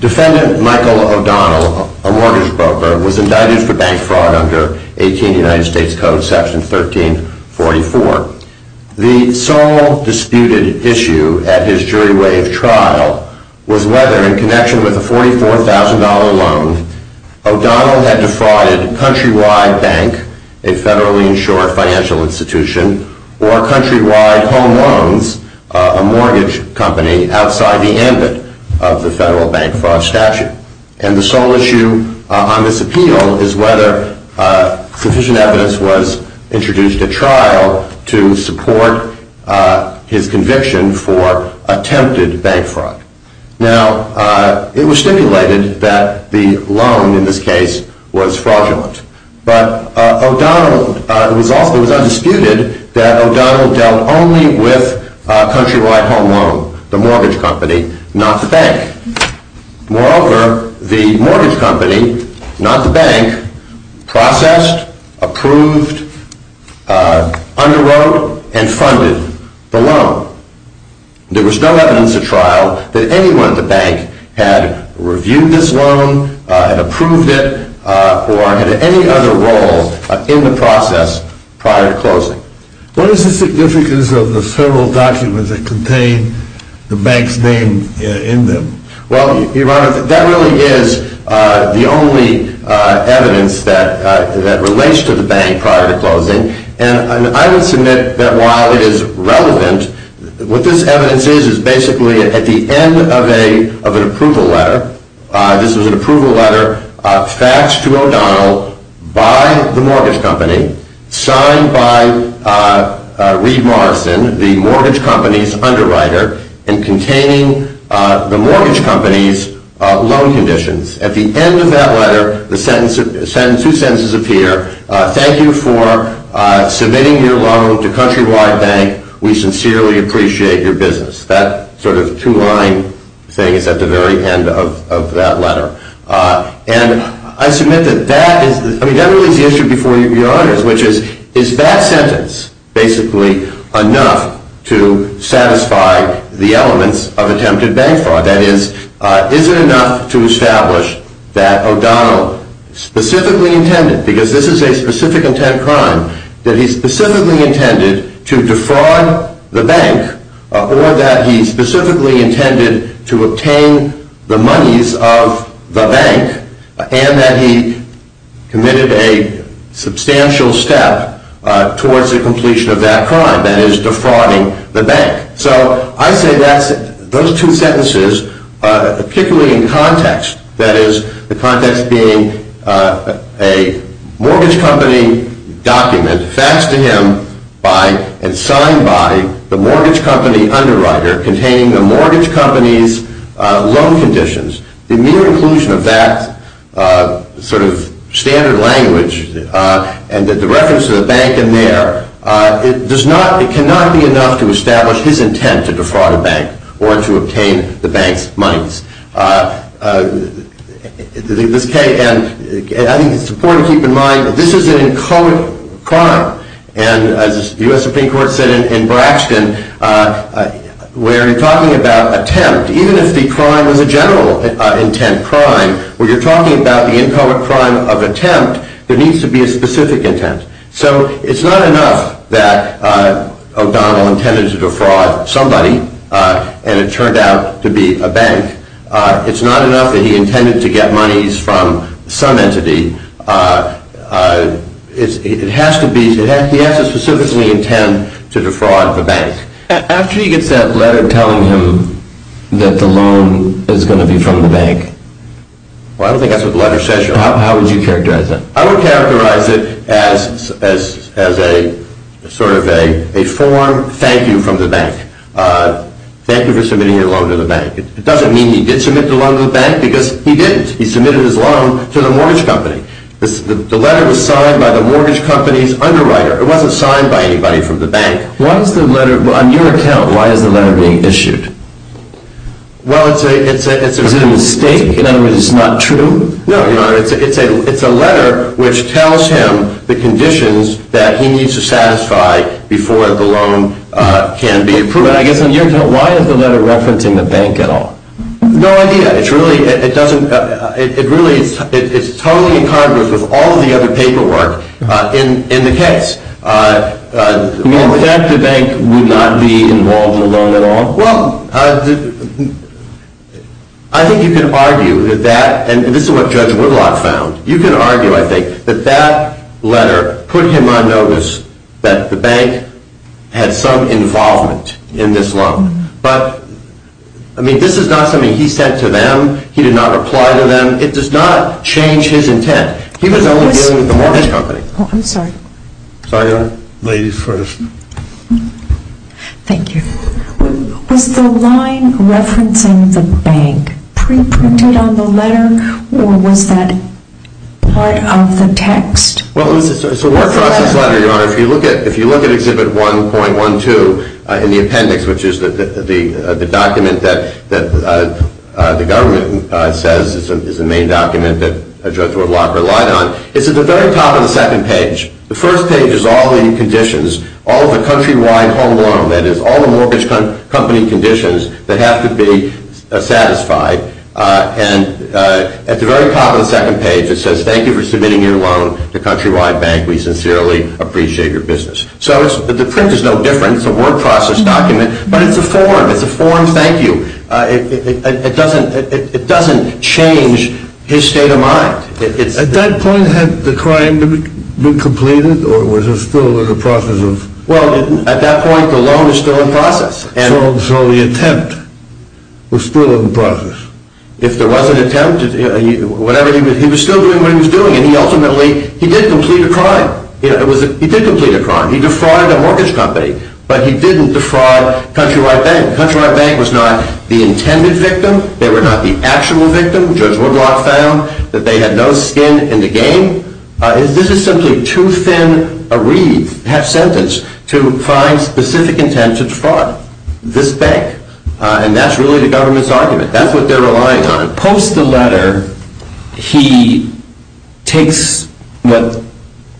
Defendant Michael O'Donnell, a mortgage broker, was indicted for bank fraud under 18 United States v. O'Donnell, and the sole disputed issue at his jury wave trial was whether, in connection with a $44,000 loan, O'Donnell had defrauded Countrywide Bank, a federally insured financial institution, or Countrywide Home Loans, a mortgage company, outside the ambit of the federal bank fraud statute. And the sole issue on this appeal is whether sufficient evidence was introduced at trial to support his conviction for attempted bank fraud. Now, it was stipulated that the loan, in this case, was fraudulent, but it was undisputed that O'Donnell dealt only with Countrywide Home Loan, the mortgage company, not the bank. It was not stated that anyone at the bank had reviewed this loan, had approved it, or had any other role in the process prior to closing. What is the significance of the federal documents that contain the bank's name in them? Well, Your Honor, that really is the only evidence that relates to the bank prior to closing, and I would submit that while it is relevant, what this evidence is, is basically at the end of an approval letter. This is an approval letter, faxed to O'Donnell by the mortgage company, signed by Reed Morrison, the mortgage company's underwriter, and containing the mortgage company's loan conditions. At the end of that letter, two sentences appear, Thank you for submitting your loan to Countrywide Bank. We sincerely appreciate your business. That sort of two-line thing is at the very end of that letter. And I submit that that is, I mean, that really is the issue before you, Your Honor, which is, is that sentence basically enough to satisfy the elements of attempted bank fraud? That is, is it enough to establish that O'Donnell specifically intended, because this is a specific intent crime, that he specifically intended to defraud the bank, or that he specifically intended to obtain the monies of the bank, and that he committed a substantial step towards the completion of that crime, that is, defrauding the bank? So I say that those two sentences, particularly in context, that is, the context being a mortgage company document faxed to him by and signed by the mortgage company underwriter, containing the mortgage company's loan conditions. The mere inclusion of that sort of standard language and the reference to the bank in there, it does not, it cannot be enough to establish his intent to defraud a bank or to obtain the bank's monies. And I think it's important to keep in mind that this is an inchoate crime. And as the U.S. Supreme Court said in Braxton, where you're talking about attempt, even if the crime is a general intent crime, when you're talking about the inchoate crime of attempt, there needs to be a specific intent. So it's not enough that O'Donnell intended to defraud somebody and it turned out to be a bank. It's not enough that he intended to get monies from some entity. It has to be, he has to specifically intend to defraud the bank. After he gets that letter telling him that the loan is going to be from the bank, I don't think that's what the letter says. How would you characterize that? I would characterize it as a sort of a form of thank you from the bank. Thank you for submitting your loan to the bank. It doesn't mean he did submit the loan to the bank because he didn't. He submitted his loan to the mortgage company. The letter was signed by the mortgage company's underwriter. It wasn't signed by anybody from the bank. Why is the letter, on your account, why is the letter being issued? Well, it's a… Is it a mistake? In other words, it's not true? No, no. It's a letter which tells him the conditions that he needs to satisfy before the loan can be approved. But I guess on your account, why is the letter referencing the bank at all? No idea. It's really, it doesn't, it really, it's totally incongruous with all of the other paperwork in the case. You mean in fact the bank would not be involved in the loan at all? Well, I think you can argue that that, and this is what Judge Whitlock found, you can argue, I think, that that letter put him on notice that the bank had some involvement in this loan. But, I mean, this is not something he said to them. He did not reply to them. It does not change his intent. He was only dealing with the mortgage company. I'm sorry. Sorry, Your Honor. Ladies first. Thank you. Was the line referencing the bank pre-printed on the letter, or was that part of the text? Well, it's a word process letter, Your Honor. If you look at Exhibit 1.12 in the appendix, which is the document that the government says is the main document that Judge Whitlock relied on, it's at the very top of the second page. The first page is all the conditions, all of the country-wide home loan, that is all the mortgage company conditions that have to be satisfied. And at the very top of the second page it says, Thank you for submitting your loan to Countrywide Bank. We sincerely appreciate your business. So the print is no different. It's a word process document, but it's a form. It's a form thank you. It doesn't change his state of mind. At that point had the crime been completed, or was it still in the process? Well, at that point the loan was still in process. So the attempt was still in the process? If there was an attempt, he was still doing what he was doing, and ultimately he did complete a crime. He did complete a crime. He defrauded a mortgage company, but he didn't defraud Countrywide Bank. Countrywide Bank was not the intended victim. They were not the actual victim. Judge Woodblock found that they had no skin in the game. This is simply too thin a wreath, half sentence, to find specific intent to defraud this bank. And that's really the government's argument. That's what they're relying on. Post the letter, he takes what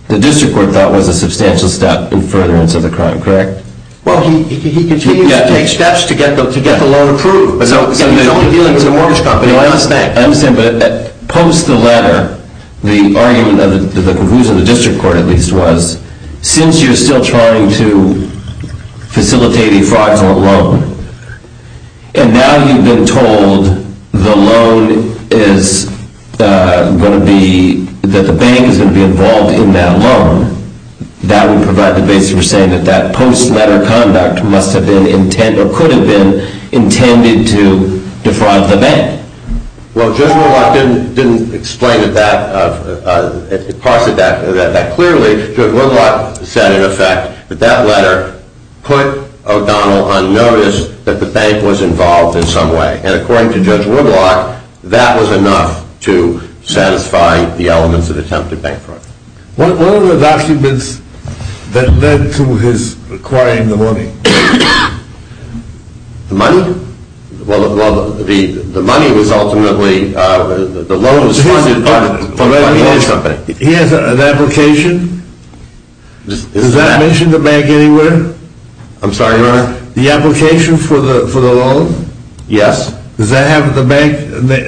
the district court thought was a substantial step in furtherance of the crime, correct? Well, he continues to take steps to get the loan approved. So he's only dealing with a mortgage company. I understand. I understand, but post the letter, the argument of the confusion, the district court at least, was since you're still trying to facilitate a fraudulent loan, and now you've been told that the bank is going to be involved in that loan, that would provide the basis for saying that that post-letter conduct must have been or could have been intended to defraud the bank. Well, Judge Woodblock didn't explain that clearly. Judge Woodblock said, in effect, that that letter put O'Donnell on notice that the bank was involved in some way. And according to Judge Woodblock, that was enough to satisfy the elements of attempted bank fraud. What were the documents that led to his acquiring the money? The money? Well, the money was ultimately, the loan was funded by the mortgage company. He has an application? Does that mention the bank anywhere? I'm sorry, Your Honor? The application for the loan? Yes. Does that have the bank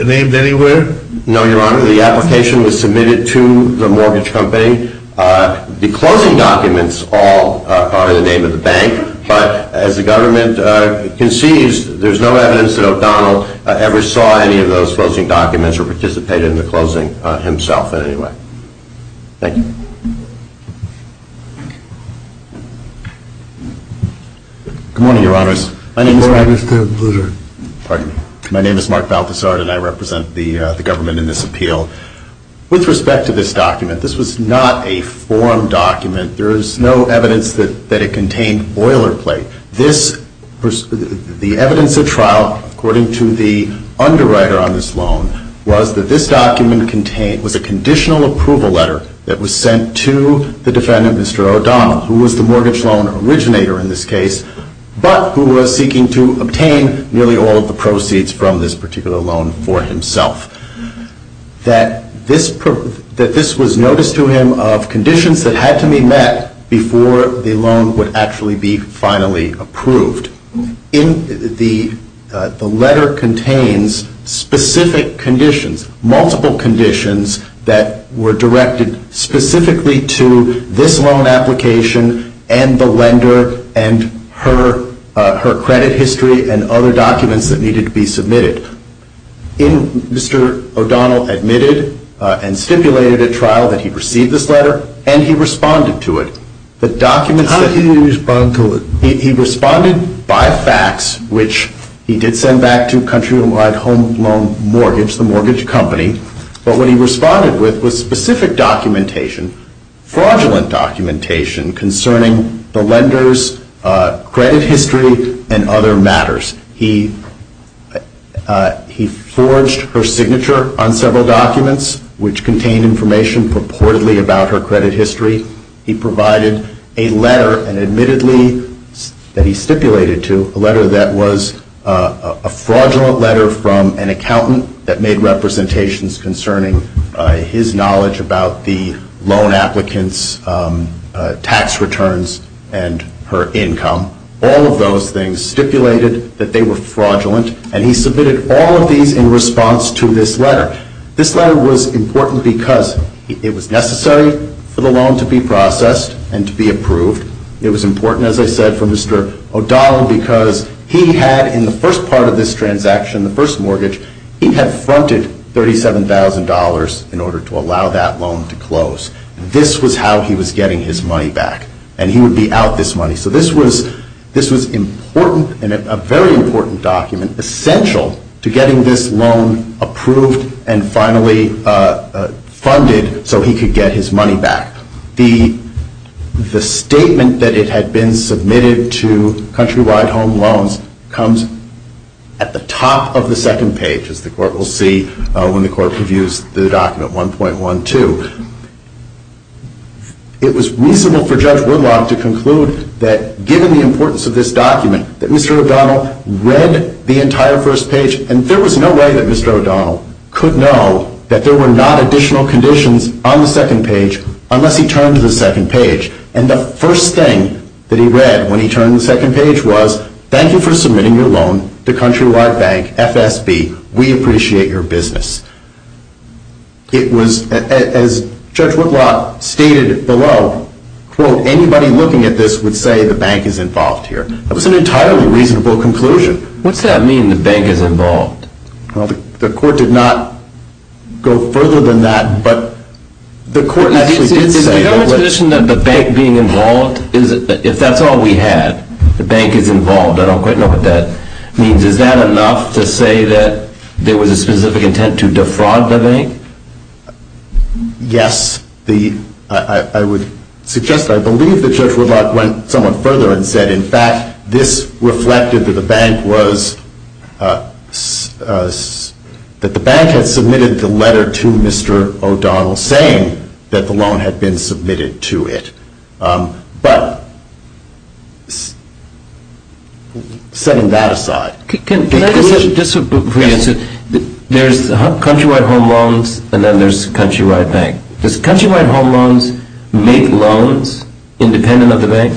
named anywhere? No, Your Honor. The application was submitted to the mortgage company. The closing documents all are the name of the bank, but as the government concedes, there's no evidence that O'Donnell ever saw any of those closing documents or participated in the closing himself in any way. Thank you. Good morning, Your Honors. Good morning, Mr. Blutard. Pardon me. My name is Mark Balthasard, and I represent the government in this appeal. With respect to this document, this was not a form document. There is no evidence that it contained boilerplate. The evidence at trial, according to the underwriter on this loan, was that this document was a conditional approval letter that was sent to the defendant, Mr. O'Donnell, who was the mortgage loan originator in this case, but who was seeking to obtain nearly all of the proceeds from this particular loan for himself. That this was noticed to him of conditions that had to be met before the loan would actually be finally approved. The letter contains specific conditions, multiple conditions, that were directed specifically to this loan application and the lender and her credit history and other documents that needed to be submitted. Mr. O'Donnell admitted and stipulated at trial that he received this letter, and he responded to it. How did he respond to it? He responded by fax, which he did send back to Countrywide Home Loan Mortgage, the mortgage company. But what he responded with was specific documentation, fraudulent documentation, concerning the lender's credit history and other matters. He forged her signature on several documents, which contained information purportedly about her credit history. He provided a letter, and admittedly that he stipulated to, a letter that was a fraudulent letter from an accountant that made representations concerning his knowledge about the loan applicant's tax returns and her income. All of those things stipulated that they were fraudulent, and he submitted all of these in response to this letter. This letter was important because it was necessary for the loan to be processed and to be approved. It was important, as I said, for Mr. O'Donnell because he had, in the first part of this transaction, the first mortgage, he had fronted $37,000 in order to allow that loan to close. This was how he was getting his money back, and he would be out this money. So this was important, and a very important document, essential to getting this loan approved and finally funded so he could get his money back. The statement that it had been submitted to Countrywide Home Loans comes at the top of the second page, as the Court will see when the Court reviews the document 1.12. It was reasonable for Judge Woodlock to conclude that, given the importance of this document, that Mr. O'Donnell read the entire first page, and there was no way that Mr. O'Donnell could know that there were not additional conditions on the second page unless he turned to the second page. And the first thing that he read when he turned to the second page was, thank you for submitting your loan to Countrywide Bank, FSB. We appreciate your business. It was, as Judge Woodlock stated below, quote, anybody looking at this would say the bank is involved here. That was an entirely reasonable conclusion. What's that mean, the bank is involved? Well, the Court did not go further than that, but the Court actually did say that. Is the government's position that the bank being involved, if that's all we had, the bank is involved, I don't quite know what that means. Is that enough to say that there was a specific intent to defraud the bank? Yes. I would suggest, I believe that Judge Woodlock went somewhat further and said, in fact, this reflected that the bank was, that the bank had submitted the letter to Mr. O'Donnell saying that the loan had been submitted to it. But setting that aside. Can I just, just before you answer, there's Countrywide Home Loans and then there's Countrywide Bank. Does Countrywide Home Loans make loans independent of the bank?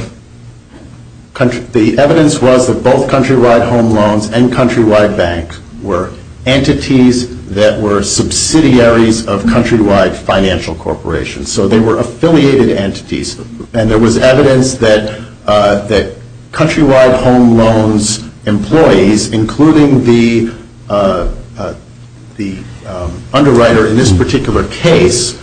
The evidence was that both Countrywide Home Loans and Countrywide Bank were entities that were subsidiaries of Countrywide Financial Corporation. So they were affiliated entities. And there was evidence that Countrywide Home Loans employees, including the underwriter in this particular case,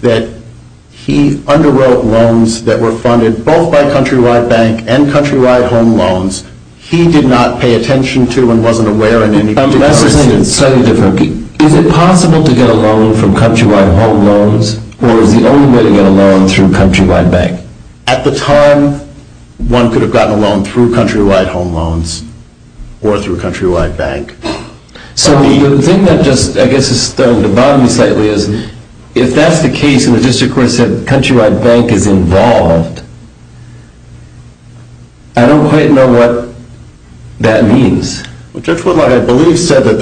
that he underwrote loans that were funded both by Countrywide Bank and Countrywide Home Loans. He did not pay attention to and wasn't aware in any particular instance. I'm guessing it's slightly different. Is it possible to get a loan from Countrywide Home Loans or is the only way to get a loan through Countrywide Bank? At the time, one could have gotten a loan through Countrywide Home Loans or through Countrywide Bank. So the thing that just I guess is starting to bother me slightly is if that's the case and the district court said Countrywide Bank is involved, I don't quite know what that means. Judge Whitlock, I believe, said that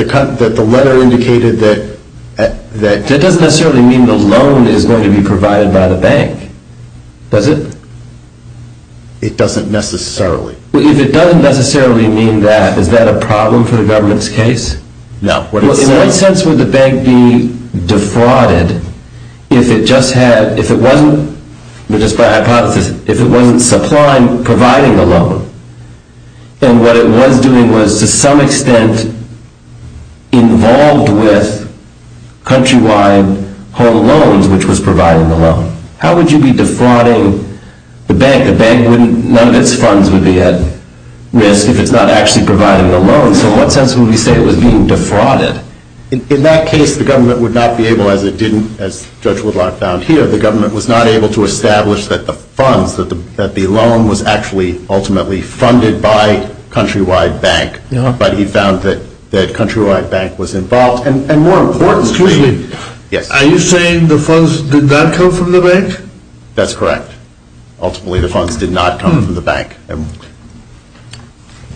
the letter indicated that That doesn't necessarily mean the loan is going to be provided by the bank. Does it? It doesn't necessarily. If it doesn't necessarily mean that, is that a problem for the government's case? No. In what sense would the bank be defrauded if it just had, if it wasn't, just by hypothesis, if it wasn't supplying, providing the loan and what it was doing was to some extent involved with Countrywide Home Loans, which was providing the loan? How would you be defrauding the bank? The bank, none of its funds would be at risk if it's not actually providing the loan. So in what sense would we say it was being defrauded? In that case, the government would not be able, as it didn't, as Judge Whitlock found here, the government was not able to establish that the funds, that the loan was actually ultimately funded by Countrywide Bank. But he found that Countrywide Bank was involved. And more importantly, are you saying the funds did not come from the bank? That's correct. Ultimately the funds did not come from the bank.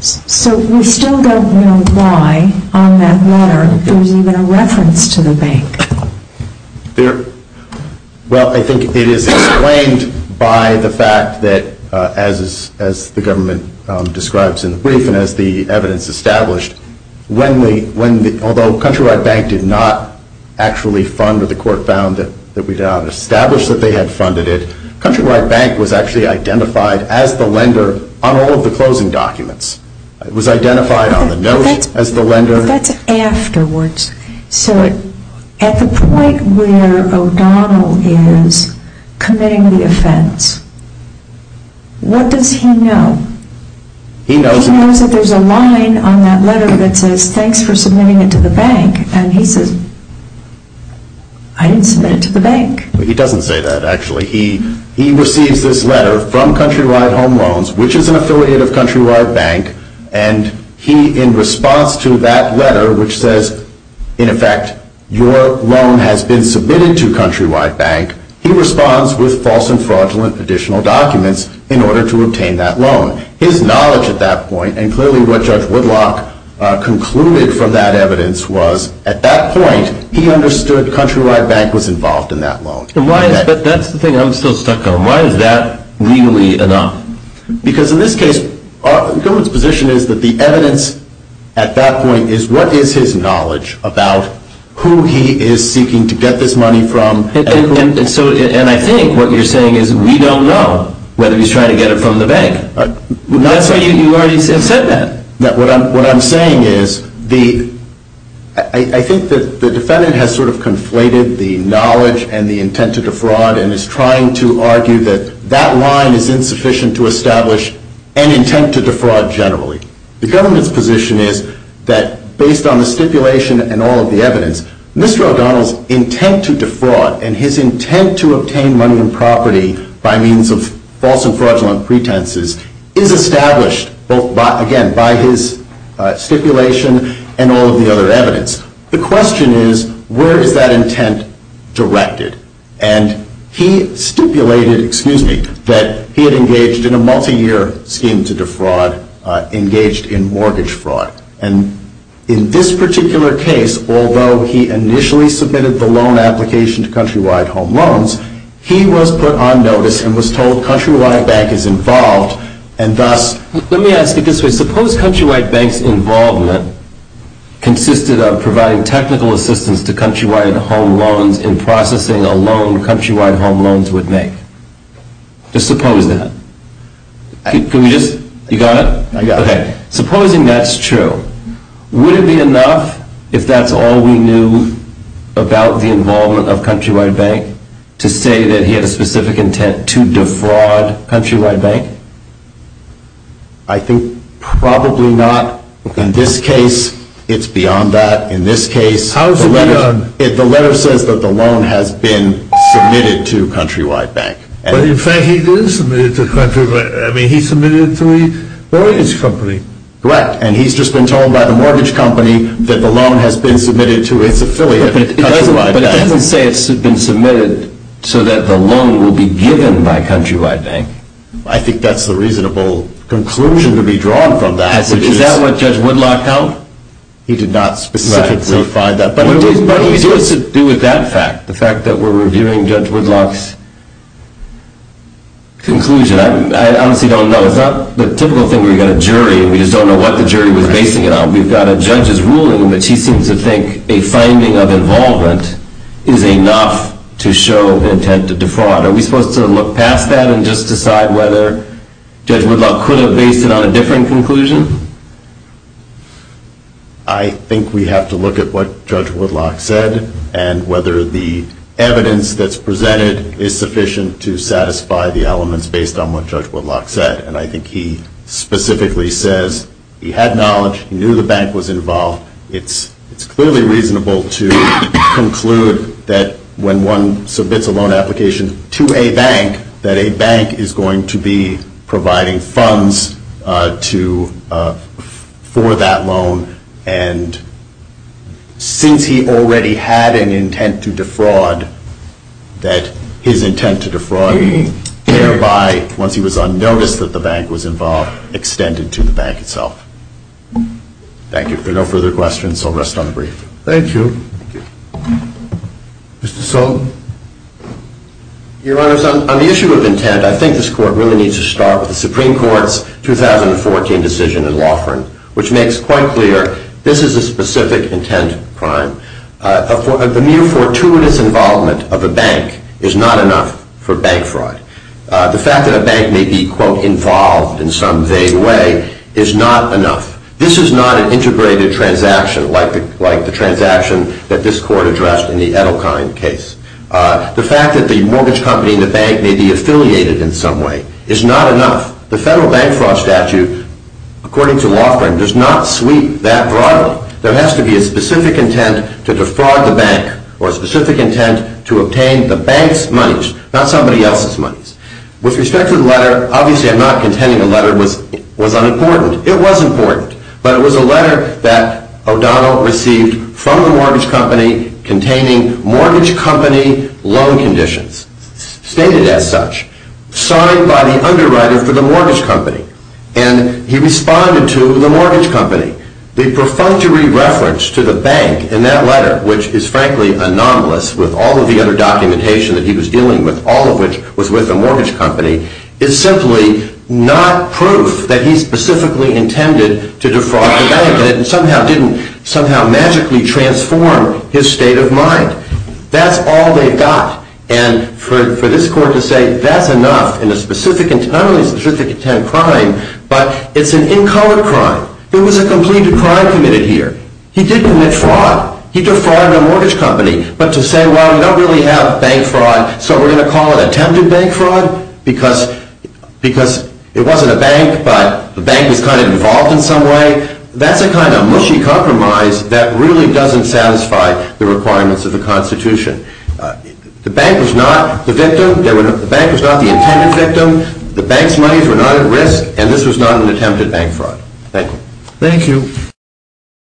So we still don't know why on that letter there's even a reference to the bank. Well, I think it is explained by the fact that, as the government describes in the brief and as the evidence established, although Countrywide Bank did not actually fund it, the court found that we did not establish that they had funded it, Countrywide Bank was actually identified as the lender on all of the closing documents. It was identified on the note as the lender. That's afterwards. So at the point where O'Donnell is committing the offense, what does he know? He knows that there's a line on that letter that says, thanks for submitting it to the bank. And he says, I didn't submit it to the bank. He doesn't say that, actually. He receives this letter from Countrywide Home Loans, which is an affiliate of Countrywide Bank, and he, in response to that letter, which says, in effect, your loan has been submitted to Countrywide Bank, he responds with false and fraudulent additional documents in order to obtain that loan. His knowledge at that point, and clearly what Judge Woodlock concluded from that evidence, was at that point he understood Countrywide Bank was involved in that loan. But that's the thing I'm still stuck on. Why is that legally enough? Because in this case, the government's position is that the evidence at that point is, what is his knowledge about who he is seeking to get this money from And I think what you're saying is, we don't know whether he's trying to get it from the bank. That's why you already said that. What I'm saying is, I think that the defendant has sort of conflated the knowledge and the intent to defraud and is trying to argue that that line is insufficient to establish an intent to defraud generally. The government's position is that, based on the stipulation and all of the evidence, Mr. O'Donnell's intent to defraud and his intent to obtain money and property by means of false and fraudulent pretenses is established, again, by his stipulation and all of the other evidence. The question is, where is that intent directed? And he stipulated, excuse me, that he had engaged in a multiyear scheme to defraud, engaged in mortgage fraud. And in this particular case, although he initially submitted the loan application to Countrywide Home Loans, he was put on notice and was told Countrywide Bank is involved and thus Let me ask it this way. Suppose Countrywide Bank's involvement consisted of providing technical assistance to Countrywide Home Loans in processing a loan Countrywide Home Loans would make. Just suppose that. Can we just, you got it? I got it. Okay, supposing that's true. Would it be enough, if that's all we knew about the involvement of Countrywide Bank, to say that he had a specific intent to defraud Countrywide Bank? I think probably not. In this case, it's beyond that. In this case, the letter says that the loan has been submitted to Countrywide Bank. But in fact, he did submit it to Countrywide Bank. I mean, he submitted it to a mortgage company. Correct. And he's just been told by the mortgage company that the loan has been submitted to its affiliate, Countrywide Bank. But it doesn't say it's been submitted so that the loan will be given by Countrywide Bank. I think that's the reasonable conclusion to be drawn from that. Is that what Judge Woodlock held? He did not specifically find that. But what do you do with that fact, the fact that we're reviewing Judge Woodlock's conclusion? I honestly don't know. It's not the typical thing where you've got a jury, and we just don't know what the jury was basing it on. We've got a judge's ruling in which he seems to think a finding of involvement is enough to show the intent to defraud. Are we supposed to look past that and just decide whether Judge Woodlock could have based it on a different conclusion? I think we have to look at what Judge Woodlock said and whether the evidence that's presented is sufficient to satisfy the elements based on what Judge Woodlock said. And I think he specifically says he had knowledge, he knew the bank was involved. It's clearly reasonable to conclude that when one submits a loan application to a bank, that a bank is going to be providing funds for that loan. And since he already had an intent to defraud, that his intent to defraud thereby, once he was on notice that the bank was involved, extended to the bank itself. Thank you. If there are no further questions, I'll rest on the brief. Thank you. Mr. Sullivan. Your Honor, on the issue of intent, I think this Court really needs to start with the Supreme Court's 2014 decision in Laughran, which makes quite clear this is a specific intent crime. The mere fortuitous involvement of a bank is not enough for bank fraud. The fact that a bank may be, quote, involved in some vague way is not enough. This is not an integrated transaction like the transaction that this Court addressed in the Edelkind case. The fact that the mortgage company and the bank may be affiliated in some way is not enough. The federal bank fraud statute, according to Laughran, does not sweep that broadly. There has to be a specific intent to defraud the bank or a specific intent to obtain the bank's monies, not somebody else's monies. With respect to the letter, obviously I'm not contending the letter was unimportant. It was important, but it was a letter that O'Donnell received from the mortgage company containing mortgage company loan conditions, stated as such, signed by the underwriter for the mortgage company, and he responded to the mortgage company. The perfunctory reference to the bank in that letter, which is frankly anomalous with all of the other documentation that he was dealing with, all of which was with the mortgage company, is simply not proof that he specifically intended to defraud the bank and it somehow magically transformed his state of mind. That's all they've got. And for this court to say that's enough in a specific intent, not only a specific intent crime, but it's an in color crime. There was a complete crime committed here. He did commit fraud. He defrauded a mortgage company, but to say, well, we don't really have bank fraud, so we're going to call it attempted bank fraud because it wasn't a bank, but the bank was kind of involved in some way, that's a kind of mushy compromise that really doesn't satisfy the requirements of the Constitution. The bank was not the victim. The bank was not the intended victim. The bank's monies were not at risk, and this was not an attempted bank fraud. Thank you. Thank you.